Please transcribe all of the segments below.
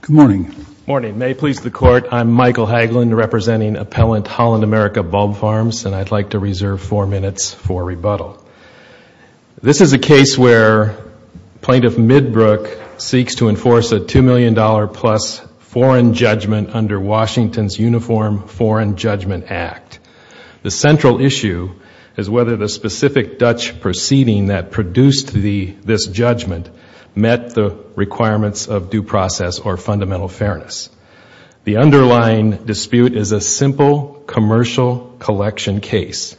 Good morning. Good morning. May it please the Court, I'm Michael Hagelin, representing Appellant Holland America Bulb Farms, and I'd like to reserve four minutes for rebuttal. This is a case where Plaintiff Midbrook seeks to enforce a $2 million-plus foreign judgment under Washington's Uniform Foreign Judgment Act. The central issue is whether the specific Dutch proceeding that produced this judgment met the requirements of due process or fundamental fairness. The underlying dispute is a simple commercial collection case.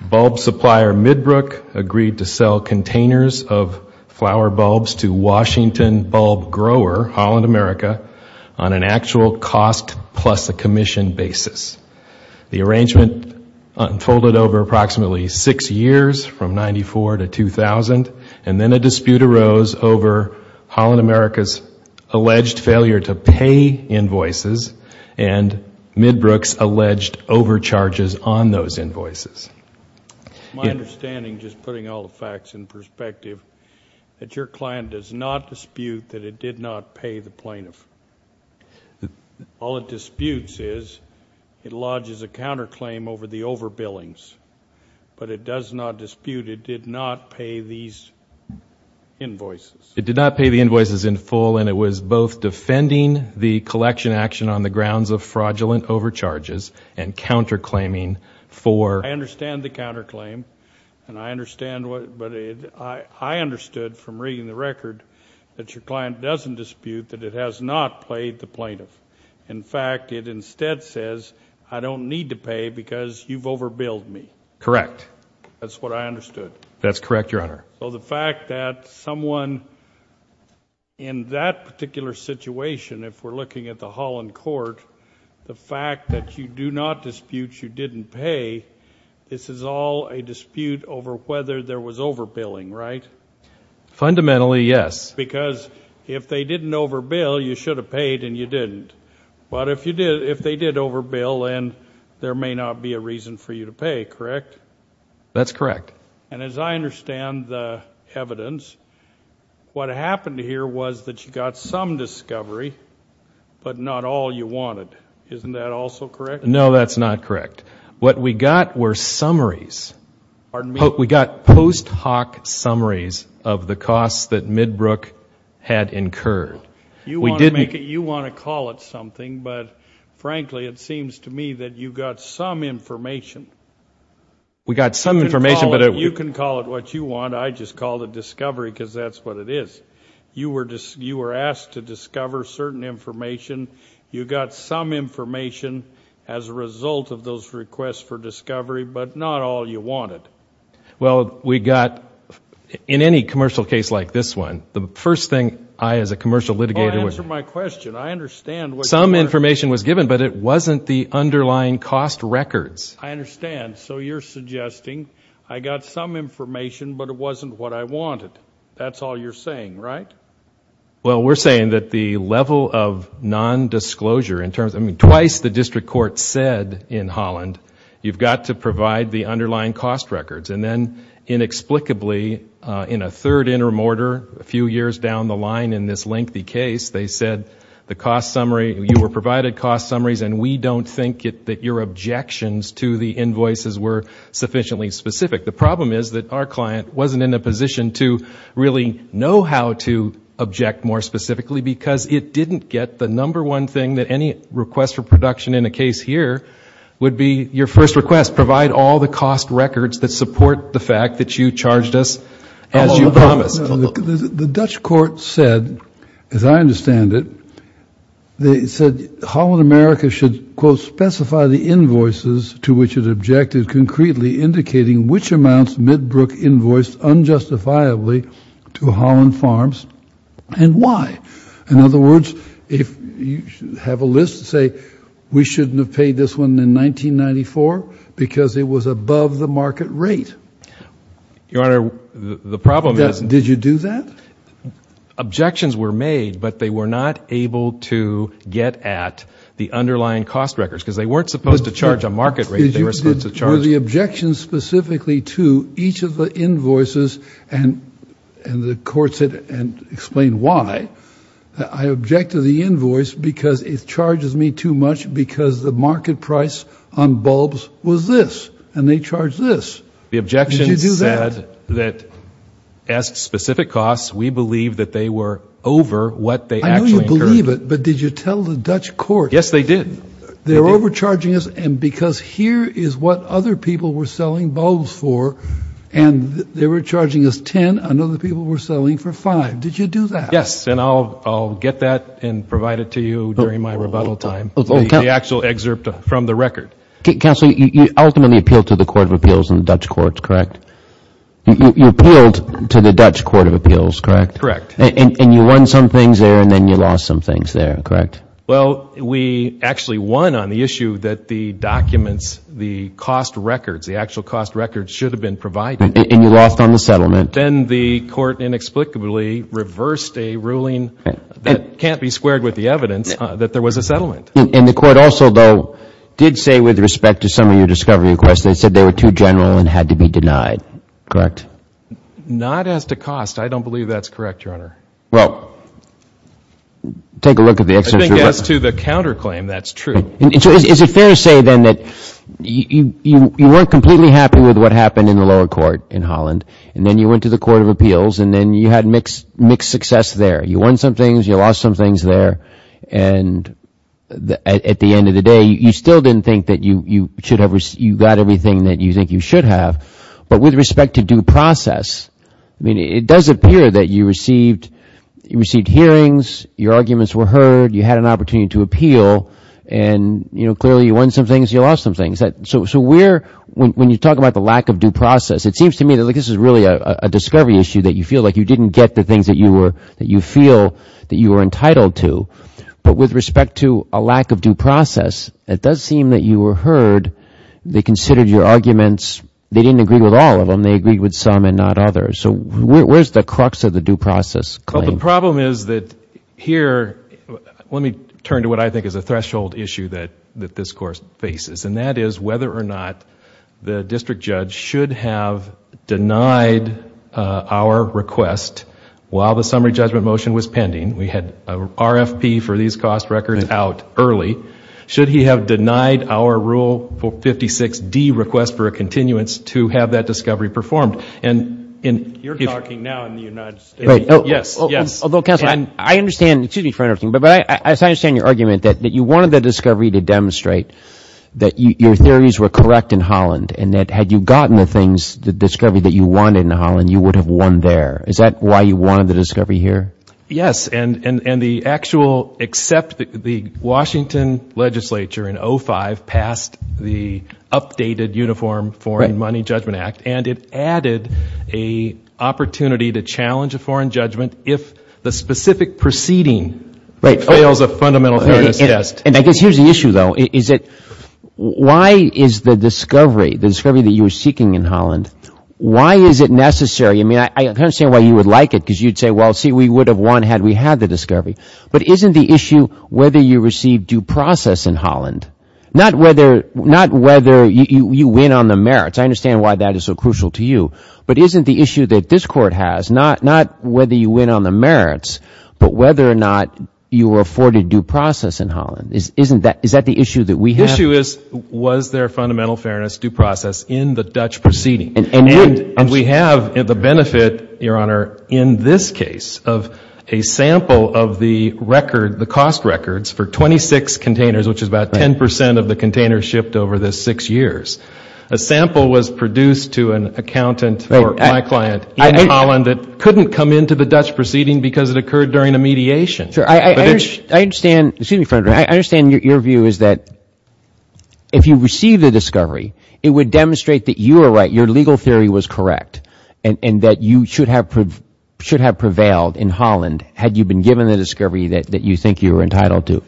Bulb supplier Midbrook agreed to sell containers of flower bulbs to Washington bulb grower Holland America on an actual cost-plus-a-commission basis. The arrangement unfolded over approximately six years, from 1994 to 2000, and then a dispute arose over Holland America's alleged failure to pay invoices and Midbrook's alleged overcharges on those invoices. My understanding, just putting all the facts in perspective, that your client does not dispute that it did not pay the plaintiff. All it disputes is it lodges a counterclaim over the overbillings, but it does not dispute it did not pay these invoices. It did not pay the invoices in full, and it was both defending the collection action on the grounds of fraudulent overcharges and counterclaiming for I understand the counterclaim, and I understand what, but I understood from reading the record that your client doesn't dispute that it has not paid the plaintiff. In fact, it instead says, I don't need to pay because you've overbilled me. Correct. That's what I understood. That's correct, Your Honor. So the fact that someone in that particular situation, if we're looking at the Holland court, the fact that you do not dispute you didn't pay, this is all a dispute over whether there was overbilling, right? Fundamentally, yes. Because if they didn't overbill, you should have paid and you didn't. But if they did overbill, then there may not be a reason for you to pay, correct? That's correct. And as I understand the evidence, what happened here was that you got some discovery, but not all you wanted. Isn't that also correct? No, that's not correct. What we got were summaries. We got post hoc summaries of the costs that Midbrook had incurred. You want to call it something, but frankly, it seems to me that you got some information. We got some information. You can call it what you want. I just called it discovery because that's what it is. You were asked to discover certain information. You got some information as a result of those requests for discovery, but not all you wanted. Well, we got, in any commercial case like this one, the first thing I as a commercial litigator would... Answer my question. I understand what you're... Some information was given, but it wasn't the underlying cost records. I understand. So you're suggesting I got some information, but it wasn't what I wanted. That's all you're saying, right? Well, we're saying that the level of non-disclosure in terms of, I mean, twice the district court said in Holland, you've got to provide the underlying cost records, and then inexplicably in a third intermortar, a few years down the line in this lengthy case, they said the cost summary... You were provided cost summaries, and we don't think that your objections to the invoices were sufficiently specific. The problem is that our client wasn't in a position to really know how to object more specifically because it didn't get the number one thing that any request for production in a case here would be your first request, provide all the cost records that support the fact that you charged us as you promised. The Dutch court said, as I understand it, they said Holland America should, quote, specify the invoices to which it objected, concretely indicating which amounts Midbrook invoiced unjustifiably to Holland Farms and why. In other words, if you have a list, say, we shouldn't have paid this one in 1994 because it was above the market rate. Your Honor, the problem is... Did you do that? Objections were made, but they were not able to get at the underlying cost records because they weren't supposed to charge a market rate. They were supposed to charge... Were the objections specifically to each of the invoices, and the court said, and explained why, I object to the invoice because it charges me too much because the market price on bulbs was this, and they charged this. The objections said that, as to specific costs, we believe that they were over what they actually incurred. I know you believe it, but did you tell the Dutch court... Yes, they did. They're overcharging us, and because here is what other people were selling bulbs for, and they were charging us 10, and other people were selling for five. Did you do that? Yes, and I'll get that and provide it to you during my rebuttal time, the actual excerpt from the record. Counsel, you ultimately appealed to the Court of Appeals and the Dutch courts, correct? You appealed to the Dutch Court of Appeals, correct? Correct. And you won some things there, and then you lost some things there, correct? Well, we actually won on the issue that the documents, the cost records, the actual cost records should have been provided. And you lost on the settlement. Then the court inexplicably reversed a ruling that can't be squared with the evidence that there was a settlement. And the court also, though, did say with respect to some of your discovery requests, they said they were too general and had to be denied, correct? Not as to cost. I don't believe that's correct, Your Honor. Well, take a look at the excerpt. I think as to the counterclaim, that's true. Is it fair to say, then, that you weren't completely happy with what happened in the lower court in Holland, and then you went to the Court of Appeals, and then you had mixed success there? You won some things, you lost some things there, and at the end of the day, you still didn't think that you got everything that you think you should have. But with respect to due process, it does appear that you received hearings, your arguments were heard, you had an opportunity to appeal, and clearly you won some things, you lost some things. So when you talk about the lack of due process, it seems to me that this is really a discovery issue that you feel like you didn't get the things that you feel that you were entitled to. But with respect to a lack of due process, it does seem that you were heard, they considered your arguments, they didn't agree with all of them, they agreed with some and not others. So where's the crux of the due process claim? Well, the problem is that here, let me turn to what I think is a threshold issue that this Court faces, and that is whether or not the district judge should have denied our request while the summary judgment motion was pending. We had RFP for these cost records out early. Should he have denied our Rule 56D request for a continuance to have that discovery performed? And if... You're talking now in the United States. Yes. Yes. Although, counsel, I understand, excuse me for interrupting, but I understand your argument that you wanted the discovery to demonstrate that your theories were correct in Holland and that had you gotten the things, the discovery that you wanted in Holland, you would have won there. Is that why you wanted the discovery here? Yes. And the actual, except the Washington legislature in 05 passed the updated Uniform Foreign Money Judgment Act, and it added a opportunity to challenge a foreign judgment if the specific proceeding fails a fundamental fairness test. And I guess here's the issue, though, is that why is the discovery, the discovery that you were seeking in Holland, why is it necessary? I mean, I understand why you would like it, because you'd say, well, see, we would have won had we had the discovery. But isn't the issue whether you received due process in Holland, not whether you win on the merits? I understand why that is so crucial to you. But isn't the issue that this Court has, not whether you win on the merits, but whether or not you were afforded due process in Holland? Isn't that, is that the issue that we have? The issue is, was there fundamental fairness due process in the Dutch proceeding? And we have the benefit, Your Honor, in this case of a sample of the record, the cost records for 26 containers, which is about 10 percent of the containers shipped over the six years. A sample was produced to an accountant for my client in Holland that couldn't come into the Dutch proceeding because it occurred during a mediation. But it's I understand, excuse me, Frederick, I understand your view is that if you receive the discovery, it would demonstrate that you are right, your legal theory was correct, and that you should have, should have prevailed in Holland had you been given the discovery that you think you were entitled to.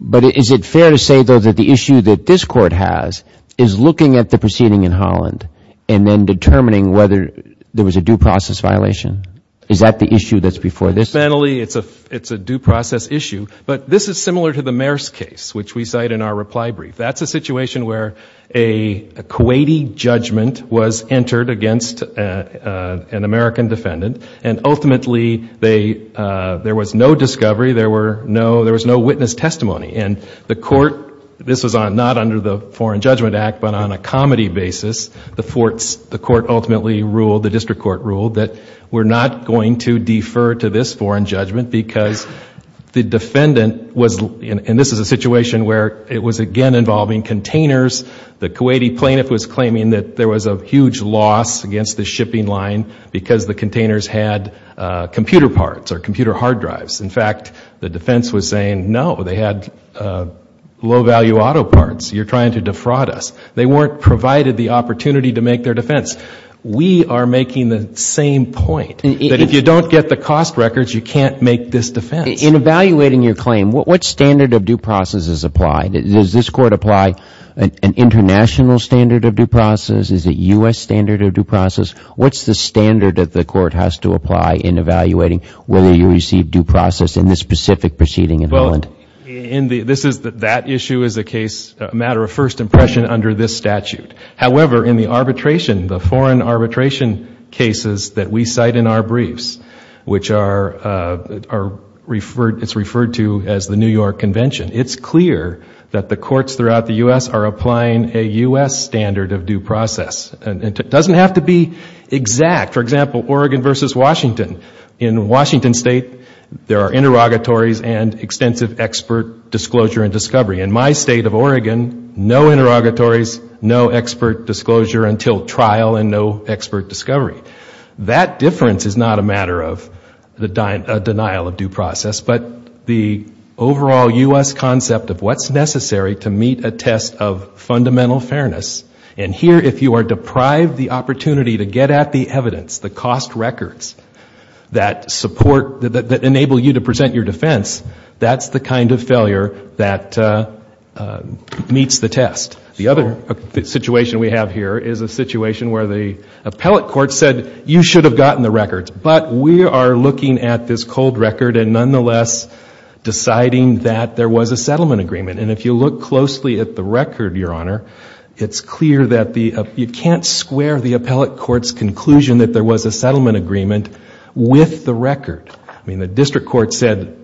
But is it fair to say, though, that the issue that this Court has is looking at the proceeding in Holland and then determining whether there was a due process violation? Is that the issue that's before this Court? Fundamentally, it's a due process issue. But this is similar to the Maersk case, which we cite in our reply brief. That's a situation where a Kuwaiti judgment was entered against an American defendant, and ultimately there was no discovery, there was no witness testimony. And the Court, this was not under the Foreign Judgment Act, but on a comedy basis, the courts, the Court ultimately ruled, the district court ruled, that we're not going to defer to this foreign judgment because the defendant was, and this is a situation where it was again involving containers, the Kuwaiti plaintiff was claiming that there was a huge loss against the shipping line because the containers had computer parts or computer hard drives. In fact, the defense was saying, no, they had low value auto parts, you're trying to defraud us. They weren't provided the opportunity to make their defense. We are making the same point, that if you don't get the cost records, you can't make this defense. In evaluating your claim, what standard of due process is applied? Does this Court apply an international standard of due process? Is it U.S. standard of due process? What's the standard that the Court has to apply in evaluating whether you receive due process in this specific proceeding in Holland? Well, in the, this is, that issue is a case, a matter of first impression under this statute. However, in the arbitration, the foreign arbitration cases that we cite in our briefs, which are referred, it's referred to as the New York Convention, it's clear that the courts throughout the U.S. are applying a U.S. standard of due process and it doesn't have to be exact. For example, Oregon versus Washington. In Washington State, there are interrogatories and extensive expert disclosure and discovery. In my state of Oregon, no interrogatories, no expert disclosure until trial and no expert discovery. That difference is not a matter of the denial of due process, but the overall U.S. concept of what's necessary to meet a test of fundamental fairness. And here, if you are deprived the opportunity to get at the evidence, the cost records that support, that enable you to present your defense, that's the kind of failure that meets the test. The other situation we have here is a situation where the appellate court said, you should have gotten the records. But we are looking at this cold record and nonetheless deciding that there was a settlement agreement. And if you look closely at the record, Your Honor, it's clear that you can't square the appellate court's conclusion that there was a settlement agreement with the record. I mean, the district court said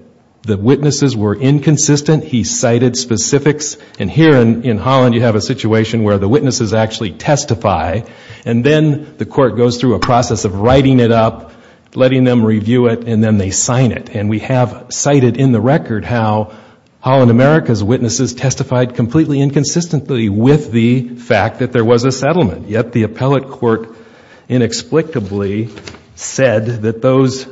the witnesses were inconsistent. He cited specifics. And here in Holland, you have a situation where the witnesses actually testify, and then the court goes through a process of writing it up, letting them review it, and then they sign it. And we have cited in the record how Holland America's witnesses testified completely inconsistently with the fact that there was a settlement, yet the appellate court inexplicably said that those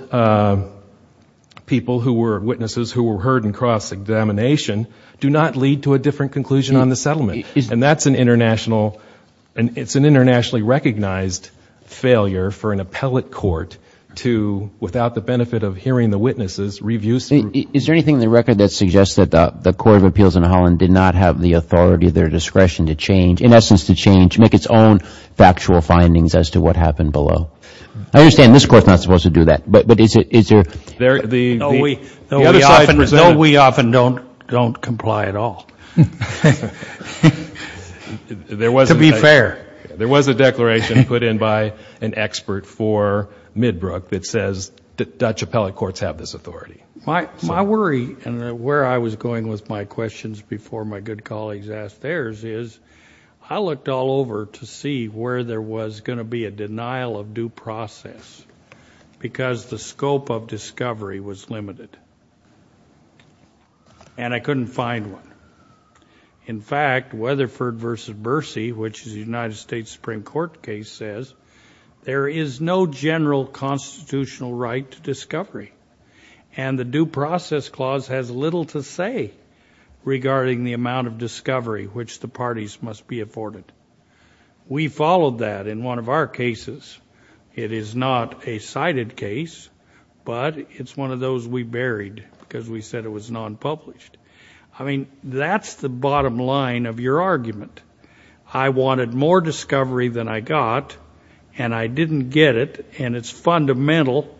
people who were witnesses who were heard in cross-examination do not lead to a different conclusion on the settlement. And that's an internationally recognized failure for an appellate court to, without the benefit of hearing the witnesses, review something. Is there anything in the record that suggests that the Court of Appeals in Holland did not have the authority or their discretion to change, in essence to change, make its own factual findings as to what happened below? I understand this Court's not supposed to do that, but is there... No, we often don't comply at all, to be fair. There was a declaration put in by an expert for Midbrook that says Dutch appellate courts have this authority. My worry, and where I was going with my questions before my good colleagues asked theirs, is I looked all over to see where there was going to be a denial of due process, because the court refused it. And I couldn't find one. In fact, Weatherford v. Bercy, which is a United States Supreme Court case, says there is no general constitutional right to discovery. And the due process clause has little to say regarding the amount of discovery which the parties must be afforded. We followed that in one of our cases. It is not a cited case, but it's one of those we buried because we said it was non-published. I mean, that's the bottom line of your argument. I wanted more discovery than I got, and I didn't get it, and it's fundamental,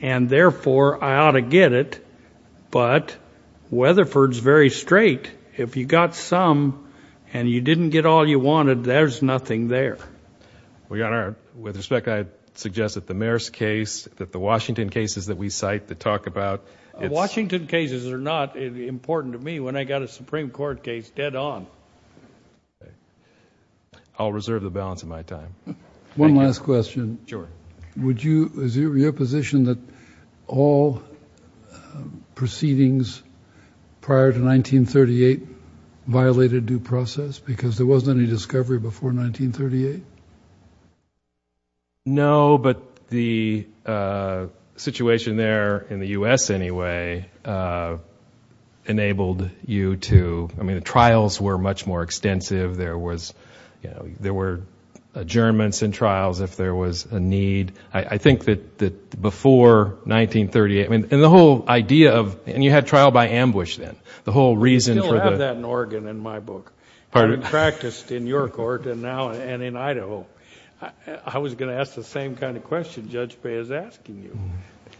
and therefore I ought to get it, but Weatherford's very straight. If you got some and you didn't get all you wanted, there's nothing there. Well, Your Honor, with respect, I'd suggest that the Mayer's case, that the Washington cases that we cite, that talk about... Washington cases are not important to me when I got a Supreme Court case dead on. I'll reserve the balance of my time. One last question. Sure. Would you... Is it your position that all proceedings prior to 1938 violated due process because there No, but the situation there, in the U.S. anyway, enabled you to... I mean, the trials were much more extensive. There were adjournments and trials if there was a need. I think that before 1938... And the whole idea of... And you had trial by ambush then. The whole reason for the... You still have that in Oregon in my book. Pardon? It's been practiced in your court and now in Idaho. I was going to ask the same kind of question Judge Bay is asking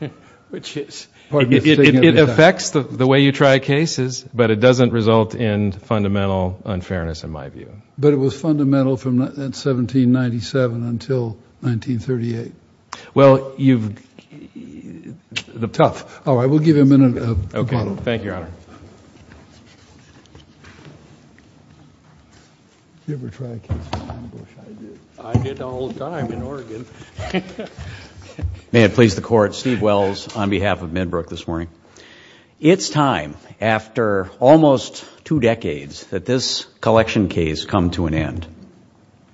you, which is... It affects the way you try cases, but it doesn't result in fundamental unfairness, in my view. But it was fundamental from 1797 until 1938. Well, you've... Tough. All right. Okay. Thank you, Your Honor. Did you ever try a case of ambush? I did. I did all the time in Oregon. May it please the Court, Steve Wells on behalf of Midbrook this morning. It's time, after almost two decades, that this collection case come to an end.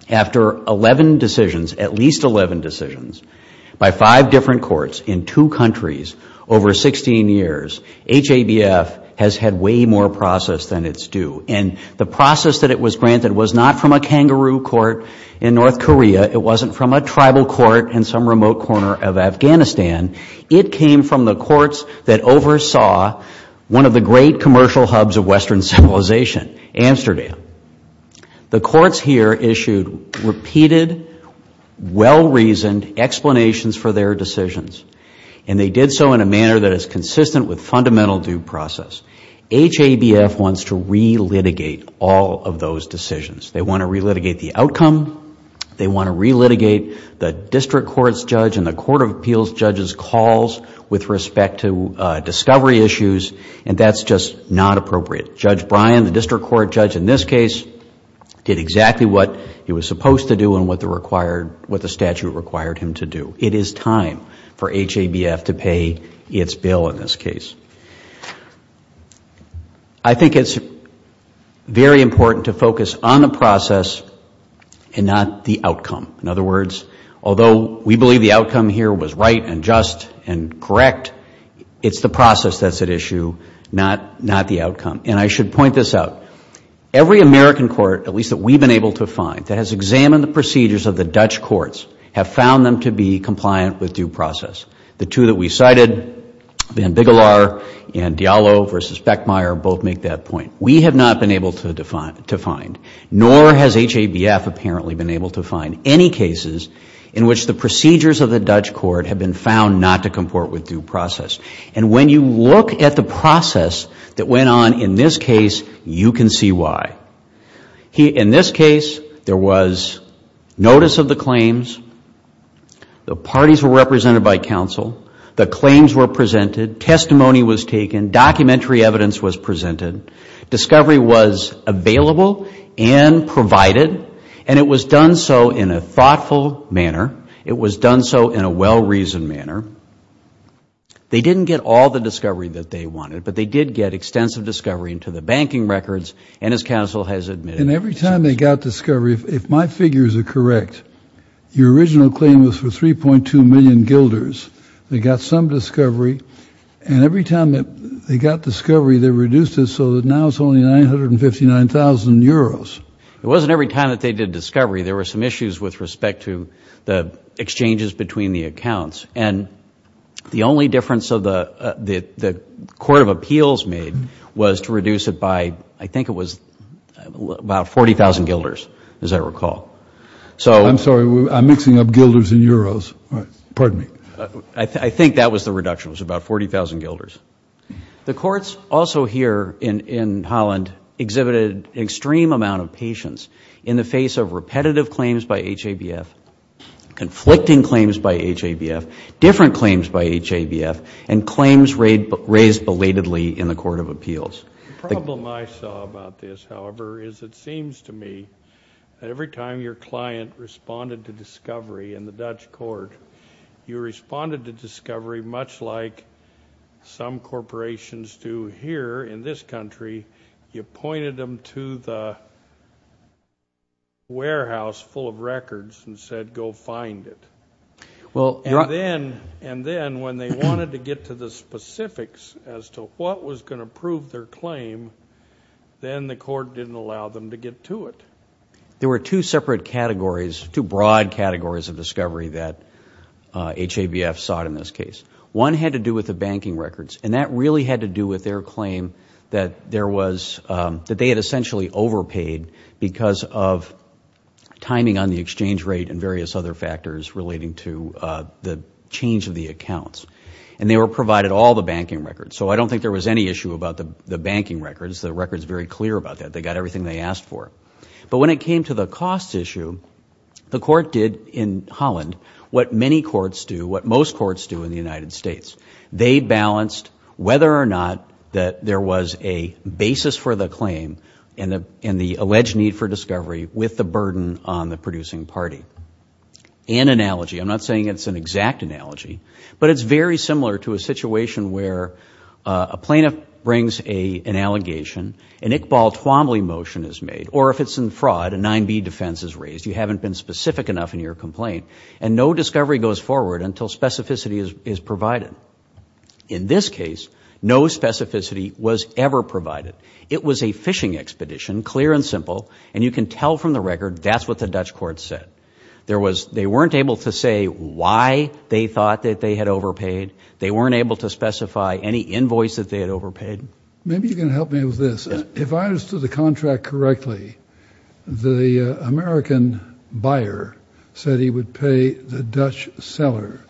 After 11 decisions, at least 11 decisions, by five different courts in two countries over 16 years, HABF has had way more process than it's due. And the process that it was granted was not from a kangaroo court in North Korea. It wasn't from a tribal court in some remote corner of Afghanistan. It came from the courts that oversaw one of the great commercial hubs of Western civilization, Amsterdam. The courts here issued repeated, well-reasoned explanations for their decisions. And they did so in a manner that is consistent with fundamental due process. HABF wants to re-litigate all of those decisions. They want to re-litigate the outcome. They want to re-litigate the district court's judge and the court of appeals judge's calls with respect to discovery issues, and that's just not appropriate. Judge Bryan, the district court judge in this case, did exactly what he was supposed to do and what the required, what the statute required him to do. It is time for HABF to pay its bill in this case. I think it's very important to focus on the process and not the outcome. In other words, although we believe the outcome here was right and just and correct, it's the process that's at issue, not the outcome. And I should point this out. Every American court, at least that we've been able to find, that has examined the procedures of the Dutch courts, have found them to be compliant with due process. The two that we cited, Van Biggelaar and Diallo v. Beckmeyer, both make that point. We have not been able to find, nor has HABF apparently been able to find, any cases in which the procedures of the Dutch court have been found not to comport with due process. And when you look at the process that went on in this case, you can see why. In this case, there was notice of the claims, the parties were represented by counsel, the claims were presented, testimony was taken, documentary evidence was presented, discovery was available and provided, and it was done so in a thoughtful manner. It was done so in a well-reasoned manner. They didn't get all the discovery that they wanted, but they did get extensive discovery into the banking records, and as counsel has admitted... And every time they got discovery, if my figures are correct, your original claim was for 3.2 million guilders. They got some discovery, and every time that they got discovery, they reduced it so that now it's only 959,000 euros. It wasn't every time that they did discovery. There were some issues with respect to the exchanges between the accounts. And the only difference that the Court of Appeals made was to reduce it by, I think it was about 40,000 guilders, as I recall. So... I'm sorry. I'm mixing up guilders and euros. All right. Pardon me. I think that was the reduction. It was about 40,000 guilders. The courts also here in Holland exhibited an extreme amount of patience in the face of repetitive claims by HABF, conflicting claims by HABF, different claims by HABF, and claims raised belatedly in the Court of Appeals. The problem I saw about this, however, is it seems to me that every time your client responded to discovery in the Dutch court, you responded to discovery much like some warehouse full of records and said, go find it. And then when they wanted to get to the specifics as to what was going to prove their claim, then the court didn't allow them to get to it. There were two separate categories, two broad categories of discovery that HABF sought in this case. One had to do with the banking records, and that really had to do with their claim that there was, that they had essentially overpaid because of timing on the exchange rate and various other factors relating to the change of the accounts. And they were provided all the banking records. So I don't think there was any issue about the banking records. The record's very clear about that. They got everything they asked for. But when it came to the cost issue, the court did in Holland what many courts do, what most courts do in the United States. They balanced whether or not that there was a basis for the claim and the alleged need for discovery with the burden on the producing party. And analogy, I'm not saying it's an exact analogy, but it's very similar to a situation where a plaintiff brings an allegation, an Iqbal Twombly motion is made, or if it's in fraud, a 9b defense is raised. You haven't been specific enough in your complaint. And no discovery goes forward until specificity is provided. In this case, no specificity was ever provided. It was a phishing expedition, clear and simple. And you can tell from the record, that's what the Dutch court said. There was, they weren't able to say why they thought that they had overpaid. They weren't able to specify any invoice that they had overpaid. Maybe you can help me with this. If I understood the contract correctly, the American buyer said he would pay the Dutch seller,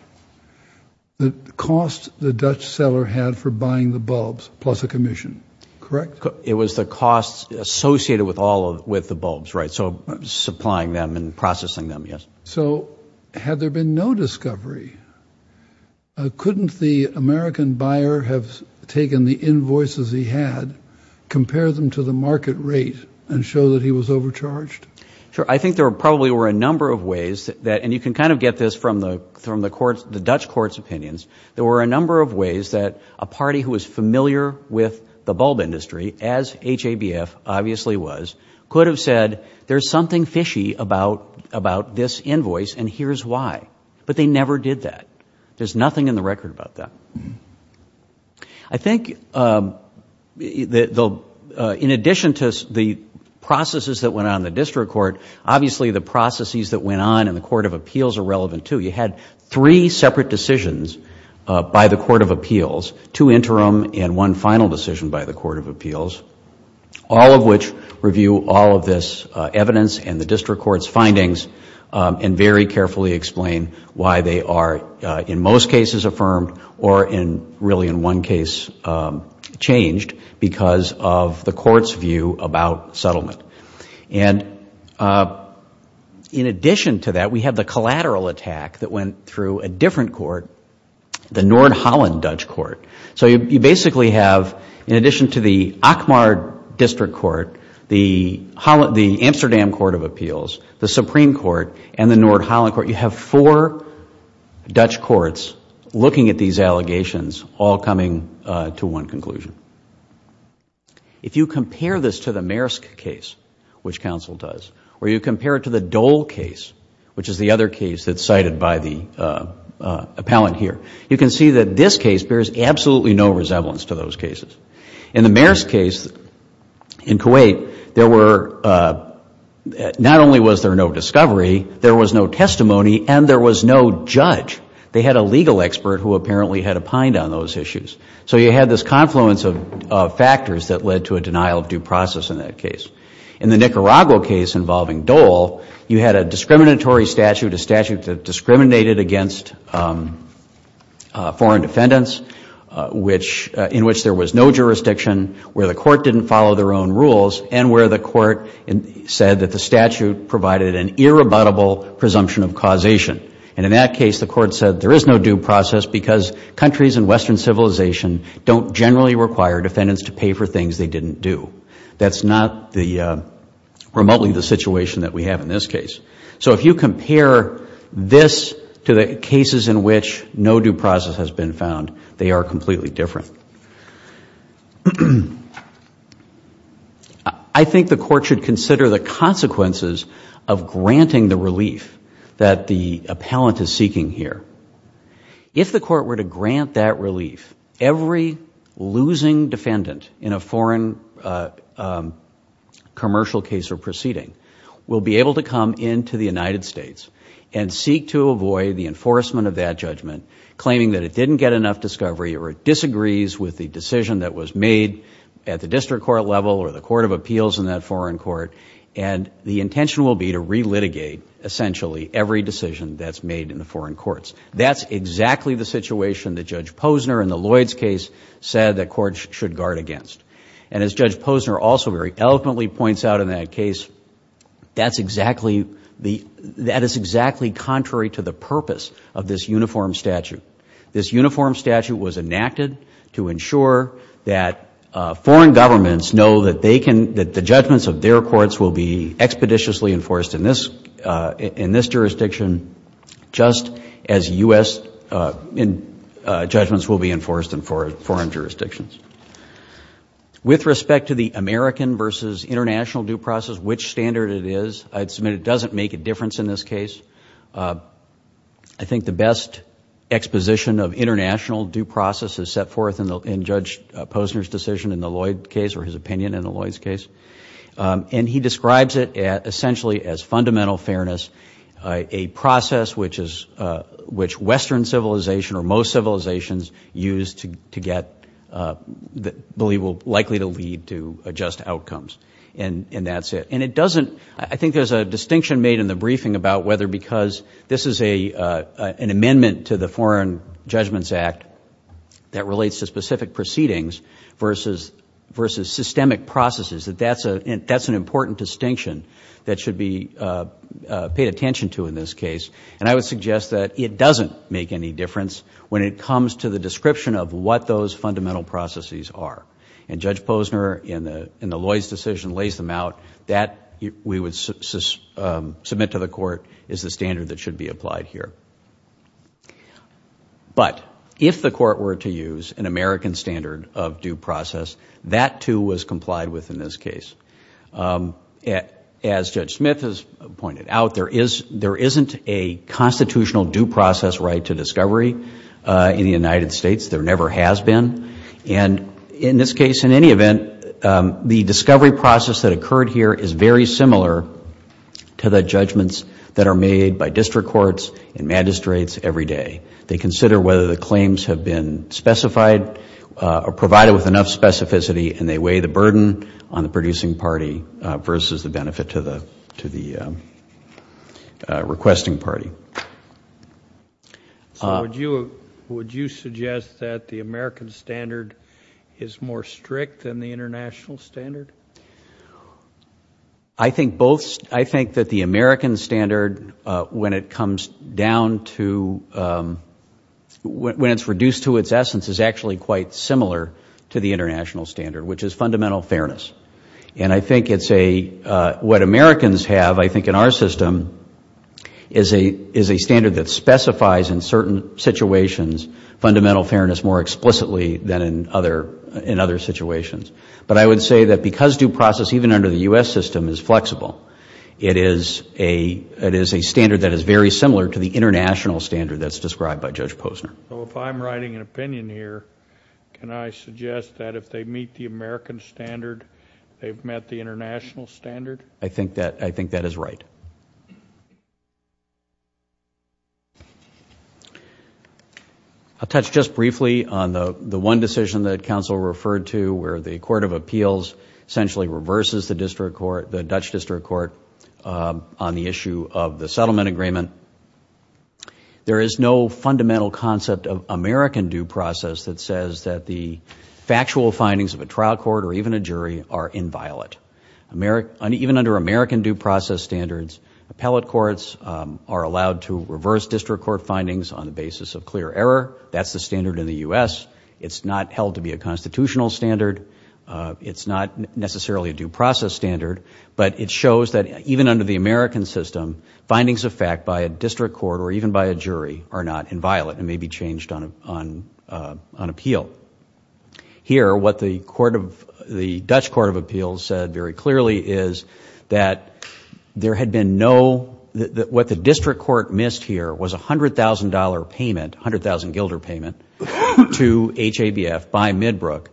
the cost the Dutch seller had for buying the bulbs plus a commission, correct? It was the costs associated with all of, with the bulbs, right? So supplying them and processing them, yes. So had there been no discovery, couldn't the American buyer have taken the invoices he had, compared them to the market rate and show that he was overcharged? Sure. I think there probably were a number of ways that, and you can kind of get this from the, from the courts, the Dutch court's opinions, there were a number of ways that a party who was familiar with the bulb industry, as HABF obviously was, could have said, there's something fishy about, about this invoice and here's why. But they never did that. There's nothing in the record about that. I think the, in addition to the processes that went on in the district court, obviously the processes that went on in the court of appeals are relevant too. You had three separate decisions by the court of appeals, two interim and one final decision by the court of appeals, all of which review all of this evidence and the district court's one case changed because of the court's view about settlement. And in addition to that, we have the collateral attack that went through a different court, the Nord-Holland Dutch court. So you basically have, in addition to the Akmar district court, the Amsterdam court of appeals, the Supreme Court and the Nord-Holland court, you have four Dutch courts looking at these allegations, all coming to one conclusion. If you compare this to the Maersk case, which counsel does, or you compare it to the Dole case, which is the other case that's cited by the appellant here, you can see that this case bears absolutely no resemblance to those cases. In the Maersk case in Kuwait, there were, not only was there no discovery, there was no testimony and there was no judge. They had a legal expert who apparently had opined on those issues. So you had this confluence of factors that led to a denial of due process in that case. In the Nicaragua case involving Dole, you had a discriminatory statute, a statute that discriminated against foreign defendants, in which there was no jurisdiction, where the court didn't follow their own rules and where the court said that the statute provided an irrebuttable presumption of causation. And in that case, the court said there is no due process because countries in Western civilization don't generally require defendants to pay for things they didn't do. That's not remotely the situation that we have in this case. So if you compare this to the cases in which no due process has been found, they are completely different. I think the court should consider the consequences of granting the relief that the appellant is seeking here. If the court were to grant that relief, every losing defendant in a foreign commercial case or proceeding will be able to come into the United States and seek to avoid the enforcement of that judgment, claiming that it didn't get enough discovery or it disagrees with the decision that was made at the district court level or the court of appeals in that foreign court, and the intention will be to re-litigate, essentially, every decision that's made in the foreign courts. That's exactly the situation that Judge Posner in the Lloyds case said that courts should guard against. And as Judge Posner also very eloquently points out in that case, that is exactly contrary to the purpose of this uniform statute. This uniform statute was enacted to ensure that foreign governments know that the judgments of their courts will be expeditiously enforced in this jurisdiction, just as U.S. judgments will be enforced in foreign jurisdictions. With respect to the American versus international due process, which standard it is, I'd submit it doesn't make a difference in this case. I think the best exposition of international due process is set forth in Judge Posner's decision in the Lloyds case or his opinion in the Lloyds case. And he describes it essentially as fundamental fairness, a process which Western civilization or most civilizations use to get the believable, likely to lead to just outcomes. And that's it. And it doesn't, I think there's a distinction made in the briefing about whether because this is an amendment to the Foreign Judgments Act that relates to specific proceedings versus systemic processes, that that's an important distinction that should be paid attention to in this case. And I would suggest that it doesn't make any difference when it comes to the description of what those fundamental processes are. And Judge Posner in the Lloyds decision lays them out. That we would submit to the court is the standard that should be applied here. But if the court were to use an American standard of due process, that too was complied with in this case. As Judge Smith has pointed out, there isn't a constitutional due process right to discovery in the United States. There never has been. And in this case, in any event, the discovery process that occurred here is very similar to the judgments that are made by district courts and magistrates every day. They consider whether the claims have been specified or provided with enough specificity and they weigh the burden on the producing party versus the benefit to the requesting party. So would you suggest that the American standard is more strict than the international standard? I think that the American standard when it comes down to, when it's reduced to its essence is actually quite similar to the international standard, which is fundamental fairness. And I think it's a, what Americans have I think in our system is a standard that specifies in certain situations fundamental fairness more explicitly than in other situations. But I would say that because due process even under the U.S. system is flexible, it is a standard that is very similar to the international standard that's described by Judge Posner. So if I'm writing an opinion here, can I suggest that if they meet the American standard, they've met the international standard? I think that, I think that is right. I'll touch just briefly on the one decision that counsel referred to where the court of appeals essentially reverses the district court, the Dutch district court on the issue of the settlement agreement. And there is no fundamental concept of American due process that says that the factual findings of a trial court or even a jury are inviolate. Even under American due process standards, appellate courts are allowed to reverse district court findings on the basis of clear error. That's the standard in the U.S. It's not held to be a constitutional standard. It's not necessarily a due process standard. But it shows that even under the American system, findings of fact by a district court or even by a jury are not inviolate and may be changed on appeal. Here what the court of, the Dutch court of appeals said very clearly is that there had been no, what the district court missed here was a $100,000 payment, $100,000 gilder payment to HABF by Midbrook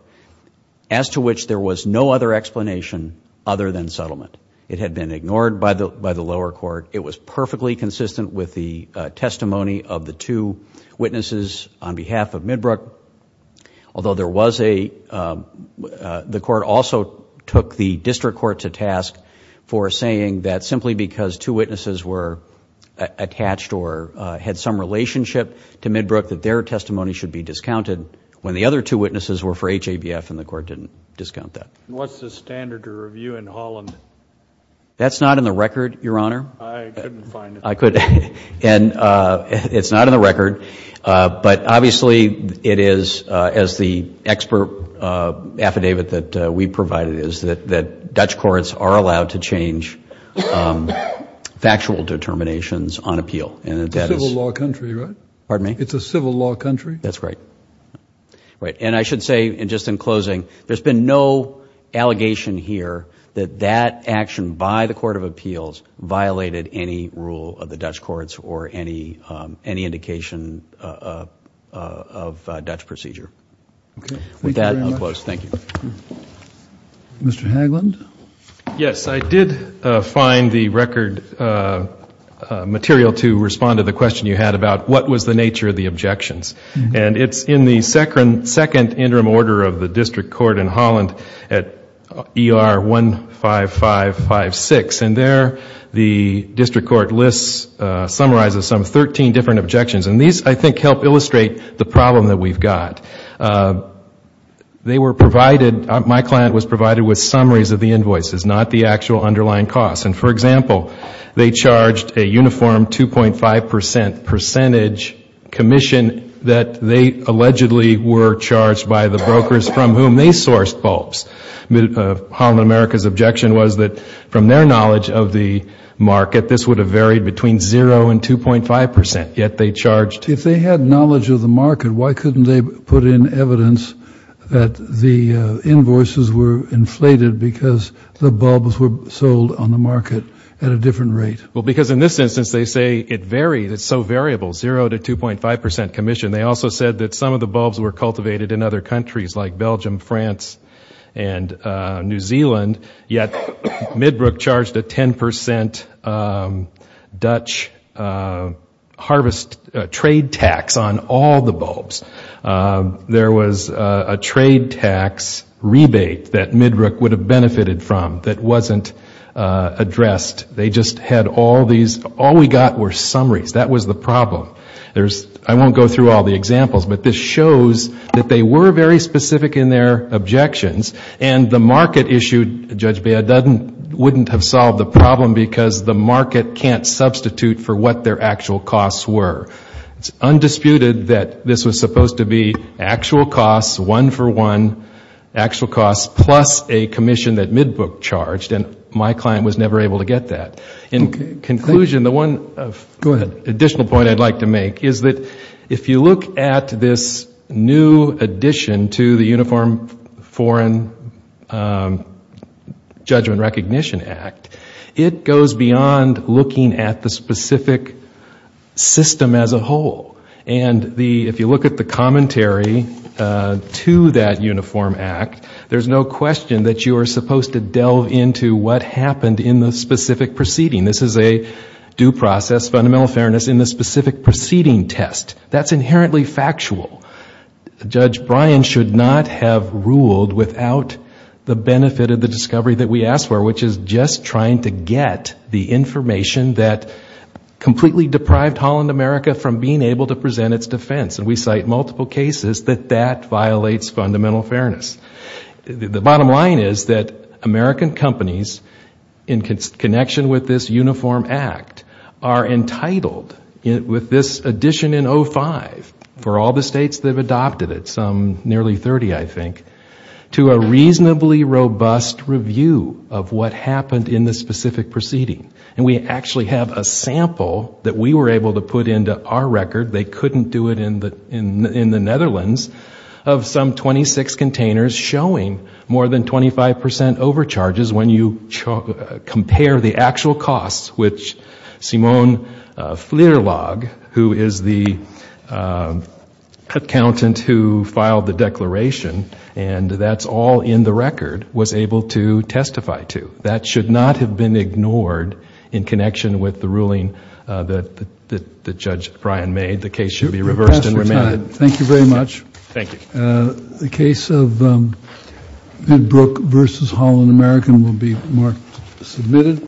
as to which there was no other explanation other than settlement. It had been ignored by the lower court. It was perfectly consistent with the testimony of the two witnesses on behalf of Midbrook. Although there was a, the court also took the district court to task for saying that simply because two witnesses were attached or had some relationship to Midbrook that their testimony should be discounted when the other two witnesses were for HABF and the court didn't discount that. What's the standard to review in Holland? That's not in the record, your honor. I couldn't find it. I couldn't, and it's not in the record. But obviously it is as the expert affidavit that we provided is that Dutch courts are allowed to change factual determinations on appeal, and that that is. It's a civil law country, right? Pardon me? It's a civil law country. That's right. Right. And I should say, and just in closing, there's been no allegation here that that action by the court of appeals violated any rule of the Dutch courts or any indication of Dutch procedure. Okay. Thank you very much. With that, I'll close. Thank you. Mr. Hagland? Yes, I did find the record material to respond to the question you had about what was the nature of the objections. And it's in the second interim order of the district court in Holland at ER 15556. And there the district court lists, summarizes some 13 different objections. And these, I think, help illustrate the problem that we've got. They were provided, my client was provided with summaries of the invoices, not the actual underlying costs. And, for example, they charged a uniform 2.5 percent percentage commission that they allegedly were charged by the brokers from whom they sourced bulbs. Holland America's objection was that from their knowledge of the market, this would have varied between zero and 2.5 percent, yet they charged. If they had knowledge of the market, why couldn't they put in evidence that the invoices were rate? Well, because in this instance they say it varies, it's so variable, zero to 2.5 percent commission. They also said that some of the bulbs were cultivated in other countries like Belgium, France, and New Zealand, yet Midbrook charged a 10 percent Dutch harvest trade tax on all the bulbs. There was a trade tax rebate that Midbrook would have benefited from that wasn't addressed. They just had all these, all we got were summaries. That was the problem. There's, I won't go through all the examples, but this shows that they were very specific in their objections. And the market issue, Judge Baird, wouldn't have solved the problem because the market can't substitute for what their actual costs were. It's undisputed that this was supposed to be actual costs, one for one, actual costs plus a commission that Midbrook charged, and my client was never able to get that. In conclusion, the one additional point I'd like to make is that if you look at this new addition to the Uniform Foreign Judgment Recognition Act, it goes beyond looking at the specific system as a whole. And if you look at the commentary to that Uniform Act, there's no question that you are supposed to delve into what happened in the specific proceeding. This is a due process, fundamental fairness in the specific proceeding test. That's inherently factual. Judge Bryan should not have ruled without the benefit of the discovery that we asked for, which is just trying to get the information that completely deprived Holland America from being able to present its defense. And we cite multiple cases that that violates fundamental fairness. The bottom line is that American companies, in connection with this Uniform Act, are entitled with this addition in 05, for all the states that have adopted it, some nearly 30, I think, to a reasonably robust review of what happened in the specific proceeding. And we actually have a sample that we were able to put into our record, they couldn't do it in the Netherlands, of some 26 containers showing more than 25 percent overcharges when you compare the actual costs, which Simone Fleurlog, who is the accountant who filed the declaration, and that's all in the record, was able to testify to. That should not have been ignored in connection with the ruling that Judge Bryan made. The case should be reversed and remanded. Thank you very much. Thank you. The case of Midbrook v. Holland American will be marked submitted.